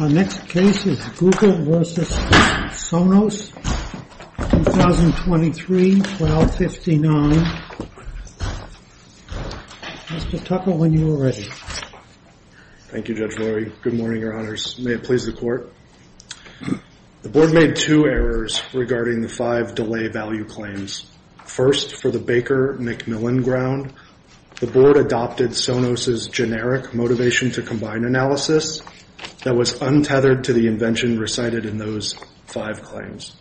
Our next case is Google v. Sonos, 2023-1259. Mr. Tucker, when you are ready. Thank you, Judge Lurie. Good morning, Your Honors. May it please the Court. The Board made two errors regarding the five delay value claims. First, for the Baker-McMillan ground, the Board adopted Sonos' generic motivation to combine analysis that was untethered to the invention recited in those five claims.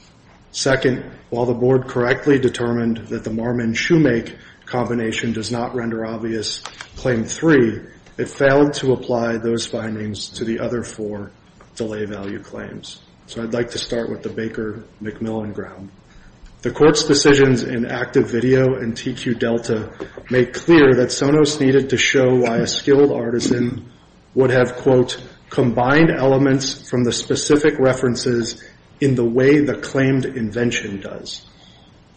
Second, while the Board correctly determined that the Marmon-Shumake combination does not render obvious claim three, it failed to apply those findings to the other four delay value claims. So I'd like to start with the Baker-McMillan ground. The Court's decisions in active video and TQ Delta make clear that Sonos needed to show why a skilled artisan would have, quote, combined elements from the specific references in the way the claimed invention does.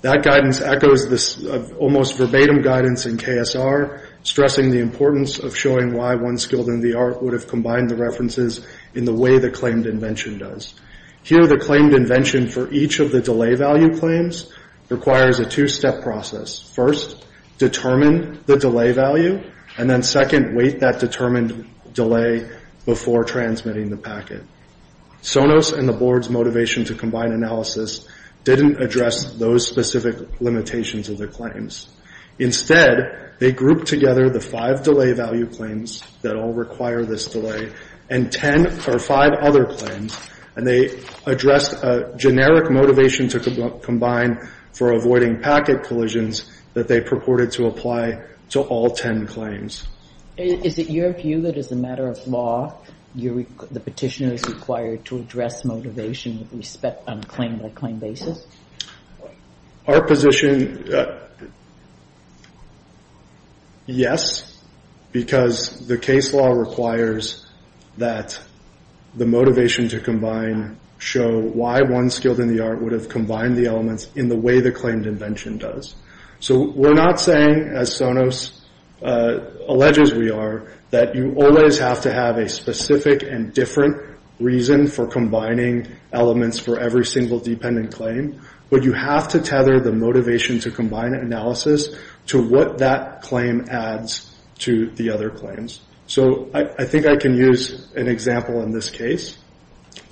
That guidance echoes this almost verbatim guidance in KSR, stressing the importance of showing why one skilled in the art would have combined the references in the way the claimed invention does. Here, the claimed invention for each of the delay value claims requires a two-step process. First, determine the delay value, and then second, wait that determined delay before transmitting the packet. Sonos and the Board's motivation to combine analysis didn't address those specific limitations of the claims. Instead, they grouped together the five delay value claims that all require this delay and 10 or five other claims, and they addressed a generic motivation to combine for avoiding packet collisions that they purported to apply to all 10 claims. Is it your view that as a matter of law, the Petitioner is required to address motivation on claim-by-claim basis? Our position, yes, because the case law requires that the motivation to combine show why one skilled in the art would have combined the elements in the way the claimed invention does. We're not saying, as Sonos alleges we are, that you always have to have a specific and different reason for combining elements for every single dependent claim, but you have to tether the motivation to combine analysis to what that claim adds to the other claims. I think I can use an example in this case.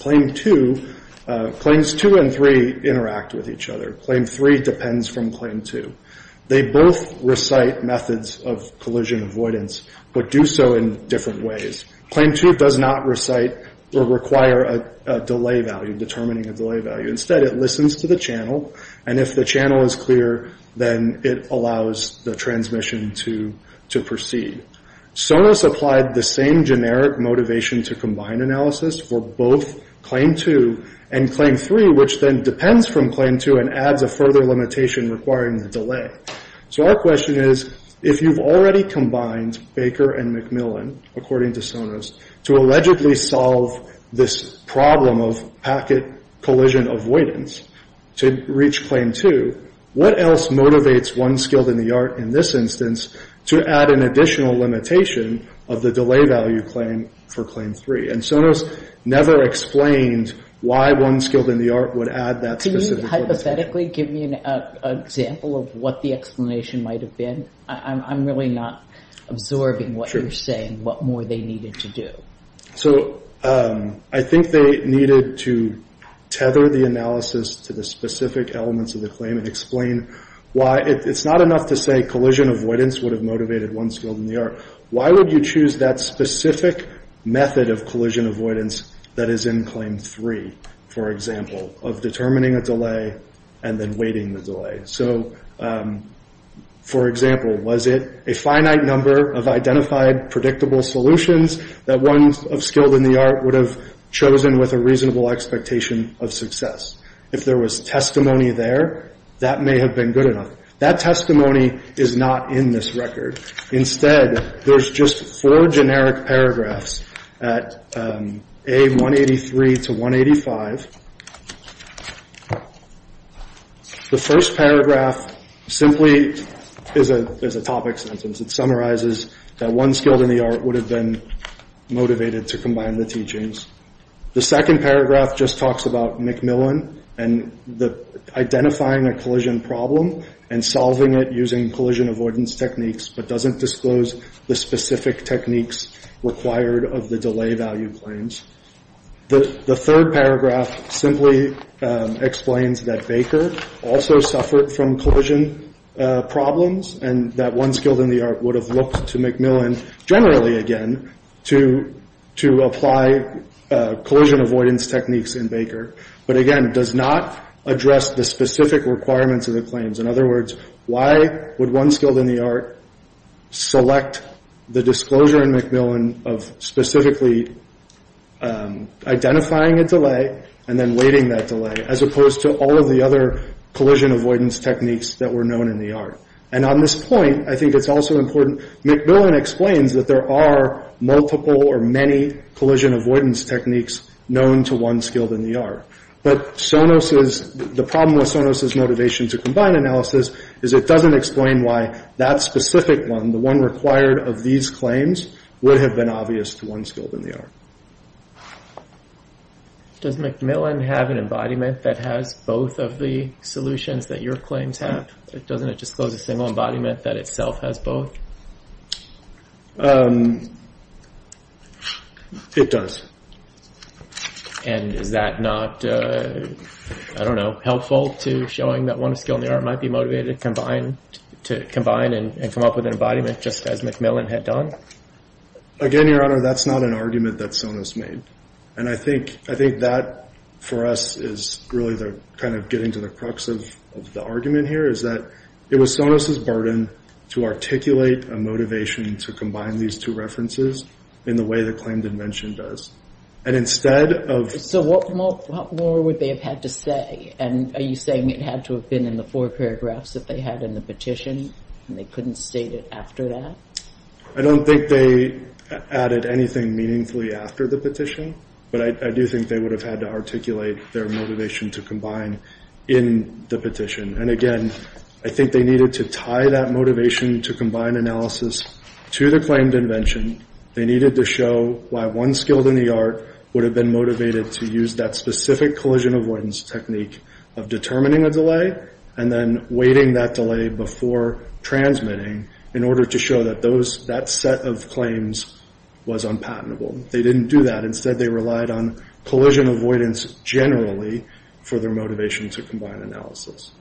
Claims two and three interact with each other. Claim three depends from claim two. They both recite methods of collision avoidance, but do so in different ways. Claim two does not recite or require a delay value, determining a delay value. Instead, it listens to the channel, and if the channel is clear, then it allows the transmission to proceed. Sonos applied the same generic motivation to combine analysis for both claim two and claim three, which then depends from claim two and adds a further limitation requiring the delay. Our question is, if you've already combined Baker and McMillan, according to Sonos, to allegedly solve this problem of packet collision avoidance to reach claim two, what else motivates one skilled in the art in this instance to add an additional limitation of the delay value claim for claim three? Sonos never explained why one skilled in the art would hypothetically give me an example of what the explanation might have been. I'm really not absorbing what you're saying, what more they needed to do. So I think they needed to tether the analysis to the specific elements of the claim and explain why it's not enough to say collision avoidance would have motivated one skilled in the art. Why would you choose that determining a delay and then waiting the delay? So, for example, was it a finite number of identified predictable solutions that one of skilled in the art would have chosen with a reasonable expectation of success? If there was testimony there, that may have been good enough. That testimony is not in this record. Instead, there's just four generic paragraphs at A183 to A185. The first paragraph simply is a topic sentence. It summarizes that one skilled in the art would have been motivated to combine the teachings. The second paragraph just talks about McMillan and identifying a collision problem and solving it using collision avoidance techniques, but doesn't disclose the specific techniques required of the delay value claims. The third paragraph simply explains that Baker also suffered from collision problems and that one skilled in the art would have looked to McMillan generally, again, to apply collision avoidance techniques in Baker, but again, does not address the specific requirements of the claims. In other words, why would one skilled in the art select the disclosure in McMillan of specifically identifying a delay and then waiting that delay, as opposed to all of the other collision avoidance techniques that were known in the art? And on this point, I think it's also important, McMillan explains that there are multiple or many collision avoidance techniques known to one skilled in the art, but the problem with Sonos' motivation to combine analysis is it doesn't explain why that specific one, the one required of these claims, would have been obvious to one skilled in the art. Does McMillan have an embodiment that has both of the solutions that your claims have? Doesn't it disclose a single embodiment that itself has both? It does. And is that not, I don't know, helpful to showing that one skilled in the art might be motivated to combine and come up with an embodiment just as McMillan had done? Again, Your Honor, that's not an argument that Sonos made. And I think that for us is really kind of getting to the crux of the argument here, is that it was Sonos' burden to articulate a motivation to combine these two references in the way the claimed invention does. And instead of... So what more would they have had to say? And are you saying it had to have been in the four paragraphs that they had in the petition and they couldn't state it after that? I don't think they added anything meaningfully after the petition, but I do think they would have had to articulate their motivation to combine in the petition. And again, I think they needed to tie that motivation to combine analysis to the claimed invention. They needed to show why one skilled in the art would have been motivated to use that specific collision avoidance technique of determining a delay and then waiting that delay before transmitting in order to show that that set of claims was unpatentable. They didn't do that. Instead, they relied on collision avoidance generally for their motivation to combine analysis.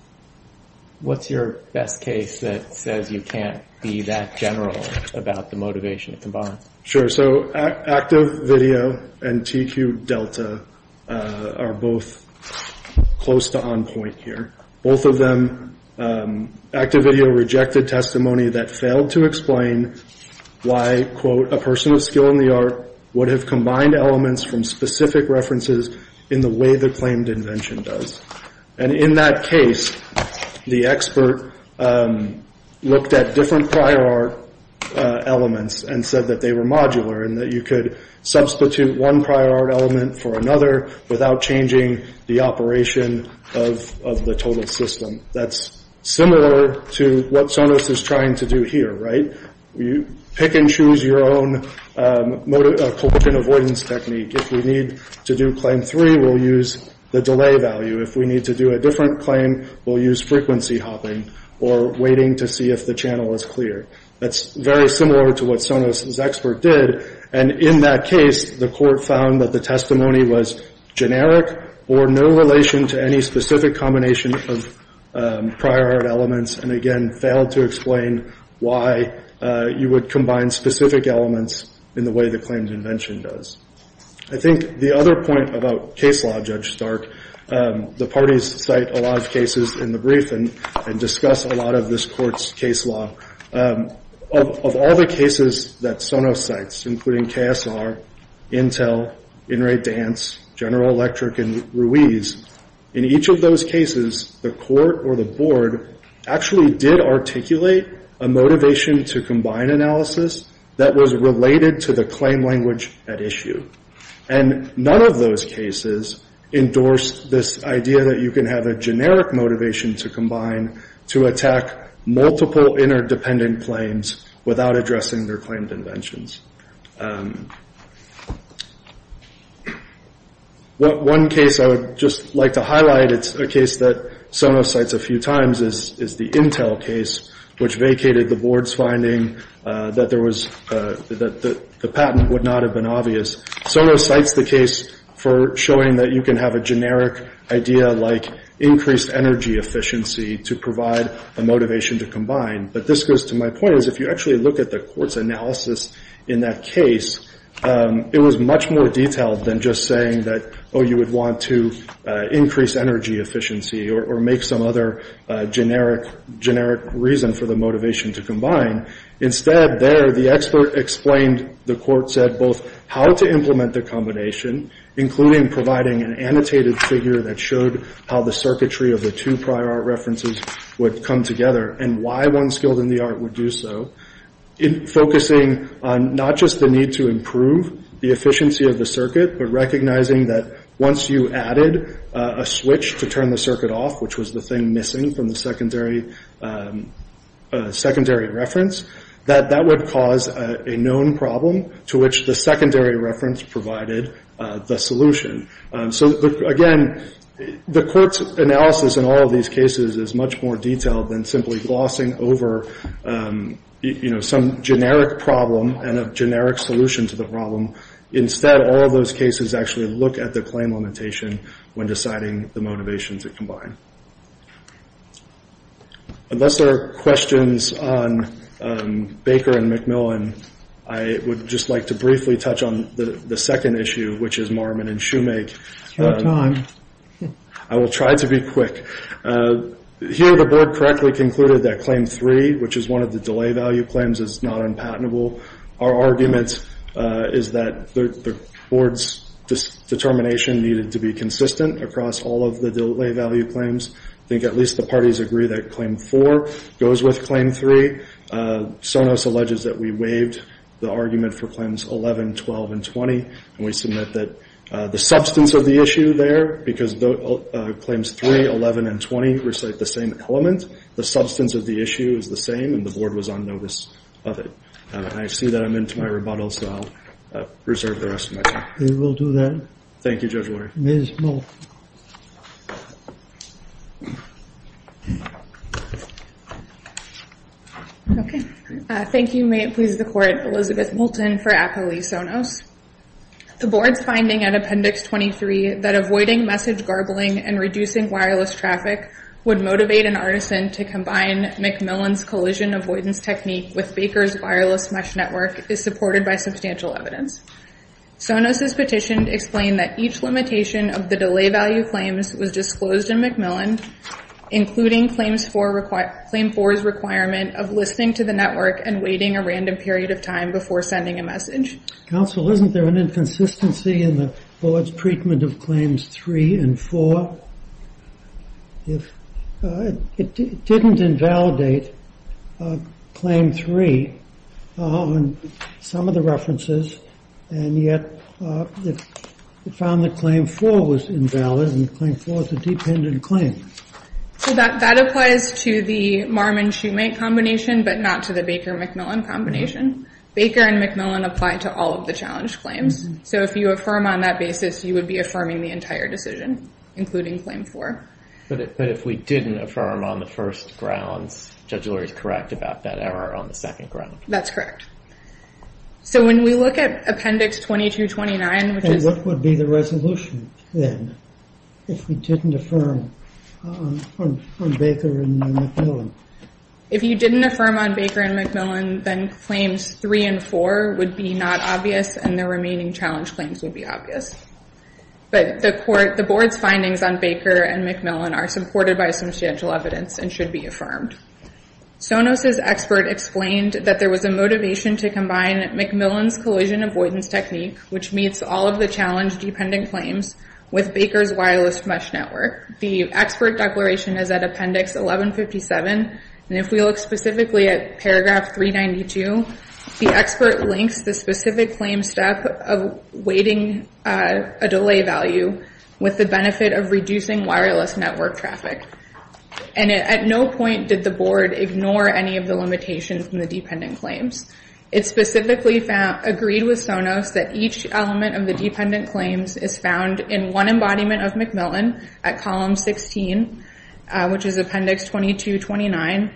What's your best case that says you can't be that general about the motivation to combine? Sure. So active video and TQ Delta are both close to on point here. Both of them, active video rejected testimony that failed to explain why, quote, a person of skill in the art would have combined elements from specific references in the way the claimed invention does. And in that case, the expert looked at different prior art elements and said that they were modular and that you could substitute one prior art element for another without changing the operation of the total system. That's similar to what Sonos is trying to do here, right? You pick and choose your own collision avoidance technique. If we need to do claim three, we'll use the delay value. If we need to do a different claim, we'll use frequency hopping or waiting to see if the channel is clear. That's very similar to what Sonos' expert did. And in that case, the court found that the testimony was generic or no relation to any you would combine specific elements in the way the claimed invention does. I think the other point about case law, Judge Stark, the parties cite a lot of cases in the brief and discuss a lot of this court's case law. Of all the cases that Sonos cites, including KSR, Intel, Inrate Dance, General Electric, and Ruiz, in each of those cases, the court or the board actually did articulate a motivation to combine analysis that was related to the claim language at issue. And none of those cases endorsed this idea that you can have a generic motivation to combine to attack multiple interdependent claims without addressing their claimed inventions. One case I would just like to highlight, it's a case that Sonos cites a few times, is the Intel case, which vacated the board's finding that the patent would not have been obvious. Sonos cites the case for showing that you can have a generic idea like increased energy efficiency to provide a motivation to combine. But this goes to my point, if you actually look at the court's analysis in that case, it was much more detailed than just saying that, oh, you would want to increase energy efficiency or make some other generic reason for the motivation to combine. Instead, there, the expert explained, the court said, both how to implement the combination, including providing an annotated figure that showed how the circuitry of the two references would come together and why one skilled in the art would do so, focusing on not just the need to improve the efficiency of the circuit, but recognizing that once you added a switch to turn the circuit off, which was the thing missing from the secondary reference, that that would cause a known problem to which the secondary reference provided the solution. So again, the court's analysis in all of these cases is much more detailed than simply glossing over some generic problem and a generic solution to the problem. Instead, all of those cases actually look at the claim limitation when deciding the motivation to combine. Unless there are questions on Baker and McMillan, I would just like to briefly touch on the second issue, which is Marmon and Shoemake. I will try to be quick. Here, the board correctly concluded that Claim 3, which is one of the delay value claims, is not unpatentable. Our argument is that the board's determination needed to be consistent across all of the delay value claims. I think at least the parties agree that Claim 4 goes with Claim 3. Sonos alleges that we waived the argument for Claims 11, 12, and 20, and we submit that the substance of the issue there, because Claims 3, 11, and 20 recite the same element, the substance of the issue is the same, and the board was on notice of it. I see that I'm into my rebuttal, so I'll reserve the rest of my time. We will do that. Thank you, Judge Lurie. Ms. Moulton. Okay. Thank you. May it please the Court, Elizabeth Moulton for Apo Lee Sonos. The board's finding at Appendix 23 that avoiding message garbling and reducing wireless traffic would motivate an artisan to combine McMillan's collision avoidance technique with Baker's wireless mesh network is supported by substantial evidence. Sonos's petition explained that each limitation of the delay value claims was disclosed in McMillan, including Claim 4's requirement of listening to the network and waiting a random period of time before sending a message. Counsel, isn't there an inconsistency in the board's treatment of Claims 3 and 4? It didn't invalidate Claim 3 on some of the references, and yet it found that Claim 4 was invalid, and Claim 4 is a dependent claim. So that applies to the Marm and Shoemake combination, but not to the Baker-McMillan combination. Baker and McMillan apply to all of the challenge claims. So if you affirm on that basis, you would be affirming the entire decision, including Claim 4. But if we didn't affirm on the first grounds, Judge Lurie is correct about that error on the second ground. That's correct. So when we look at Appendix 2229, which is... What would be the resolution then, if we didn't affirm on Baker and McMillan? If you didn't affirm on Baker and McMillan, then Claims 3 and 4 would be not obvious, and the remaining challenge claims would be obvious. But the board's findings on Baker and McMillan are supported by substantial evidence and should be affirmed. Sonos's expert explained that there was a motivation to combine McMillan's collision avoidance technique, which meets all of the challenge-dependent claims, with Baker's wireless mesh network. The expert declaration is at Appendix 1157, and if we look specifically at Paragraph 392, the expert links the specific claim step of weighting a delay value with the network traffic. And at no point did the board ignore any of the limitations from the dependent claims. It specifically agreed with Sonos that each element of the dependent claims is found in one embodiment of McMillan at Column 16, which is Appendix 2229,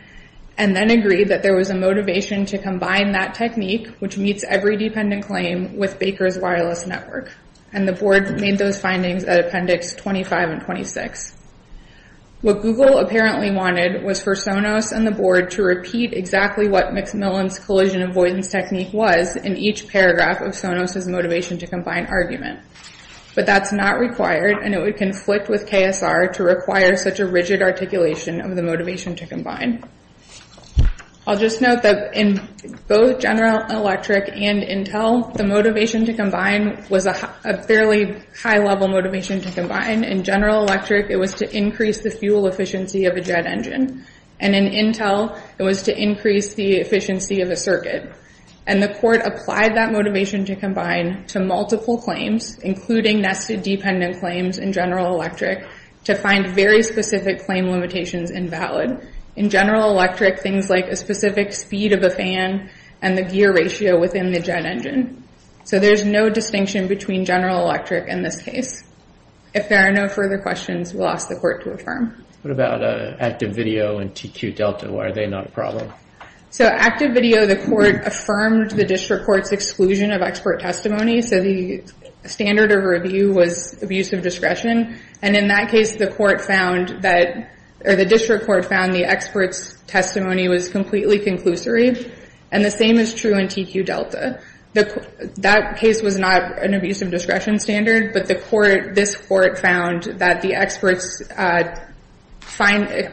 and then agreed that there was a motivation to combine that technique, which meets every dependent claim, with Baker's wireless network. And the board made those findings at Appendix 25 and 26. What Google apparently wanted was for Sonos and the board to repeat exactly what McMillan's collision avoidance technique was in each paragraph of Sonos's motivation to combine argument. But that's not required, and it would conflict with KSR to require such a rigid articulation of the motivation to combine. I'll just note that in both General Electric and Intel, the motivation to combine was a fairly high-level motivation to combine. In General Electric, it was to increase the fuel efficiency of a jet engine, and in Intel, it was to increase the efficiency of a circuit. And the court applied that motivation to combine to multiple claims, including nested dependent claims in General Electric, to find very specific claim limitations invalid. In General Electric, things like a specific speed of a fan and the gear ratio within the jet engine. So there's no distinction between General Electric in this case. If there are no further questions, we'll ask the court to affirm. What about Active Video and TQ Delta? Why are they not a problem? So Active Video, the court affirmed the district court's exclusion of expert testimony, so the standard of review was abuse of discretion. And in that case, the court found that, or the district court found the expert's testimony was completely conclusory. And the same is true in TQ Delta. That case was not an abuse of discretion standard, but this court found that the expert's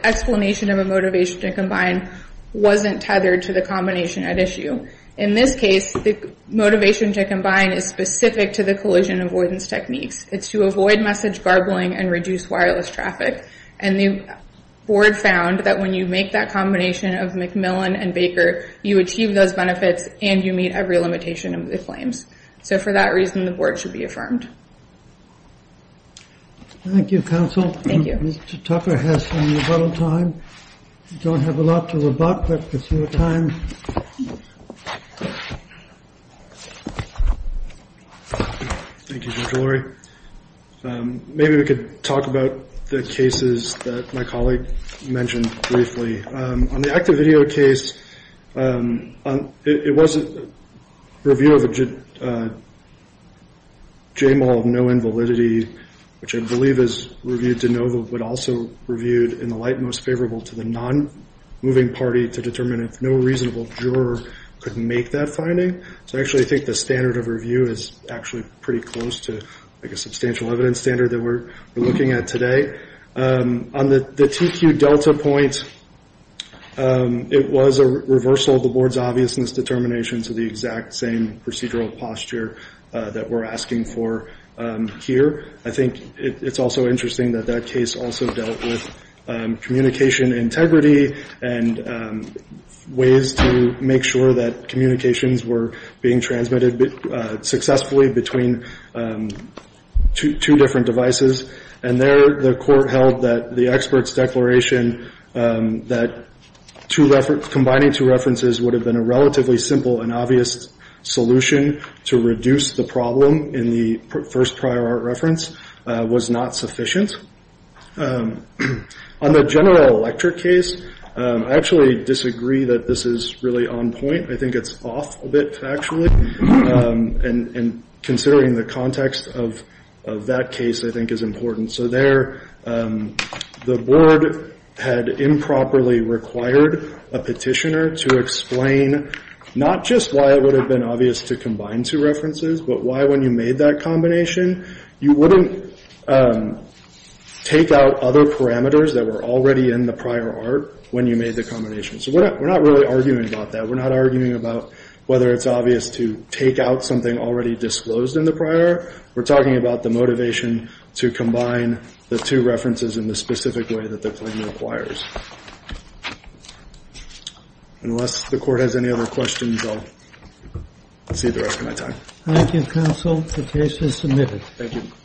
explanation of a motivation to combine wasn't tethered to the combination at issue. In this case, the motivation to combine is specific to the collision avoidance techniques. It's to avoid message garbling and reduce wireless traffic. And the board found that when you make that combination of Macmillan and Baker, you achieve those benefits and you meet every limitation of the claims. So for that reason, the board should be affirmed. Thank you, counsel. Thank you. Mr. Tucker has some rebuttal time. Don't have a lot to rebut, but if you have time. Thank you, Judge Lurie. Maybe we could talk about the cases that my colleague mentioned briefly. On the Active Video case, it was a review of a JMOL of no invalidity, which I believe is but also reviewed in the light most favorable to the non-moving party to determine if no reasonable juror could make that finding. So actually, I think the standard of review is actually pretty close to a substantial evidence standard that we're looking at today. On the TQ Delta point, it was a reversal of the board's obviousness determination to the exact same procedural posture that we're asking for here. I think it's also interesting that that case also dealt with communication integrity and ways to make sure that communications were being transmitted successfully between two different devices. And there, the court held that the expert's declaration that combining two references would have been a relatively simple and obvious solution to reduce the problem in the first prior art reference was not sufficient. On the General Electric case, I actually disagree that this is really on point. I think it's off a bit factually, and considering the context of that case, I think is important. So there, the board had improperly required a petitioner to explain not just why it would have been obvious to combine two references, but why when you made that combination, you wouldn't take out other parameters that were already in the prior art when you made the combination. So we're not really arguing about that. We're not arguing about whether it's obvious to take out something already disclosed in the prior. We're talking about the motivation to combine the two references in the specific way that the claim requires. Unless the court has any other questions, I'll save the rest of my time. Thank you, counsel. The case is submitted. Thank you.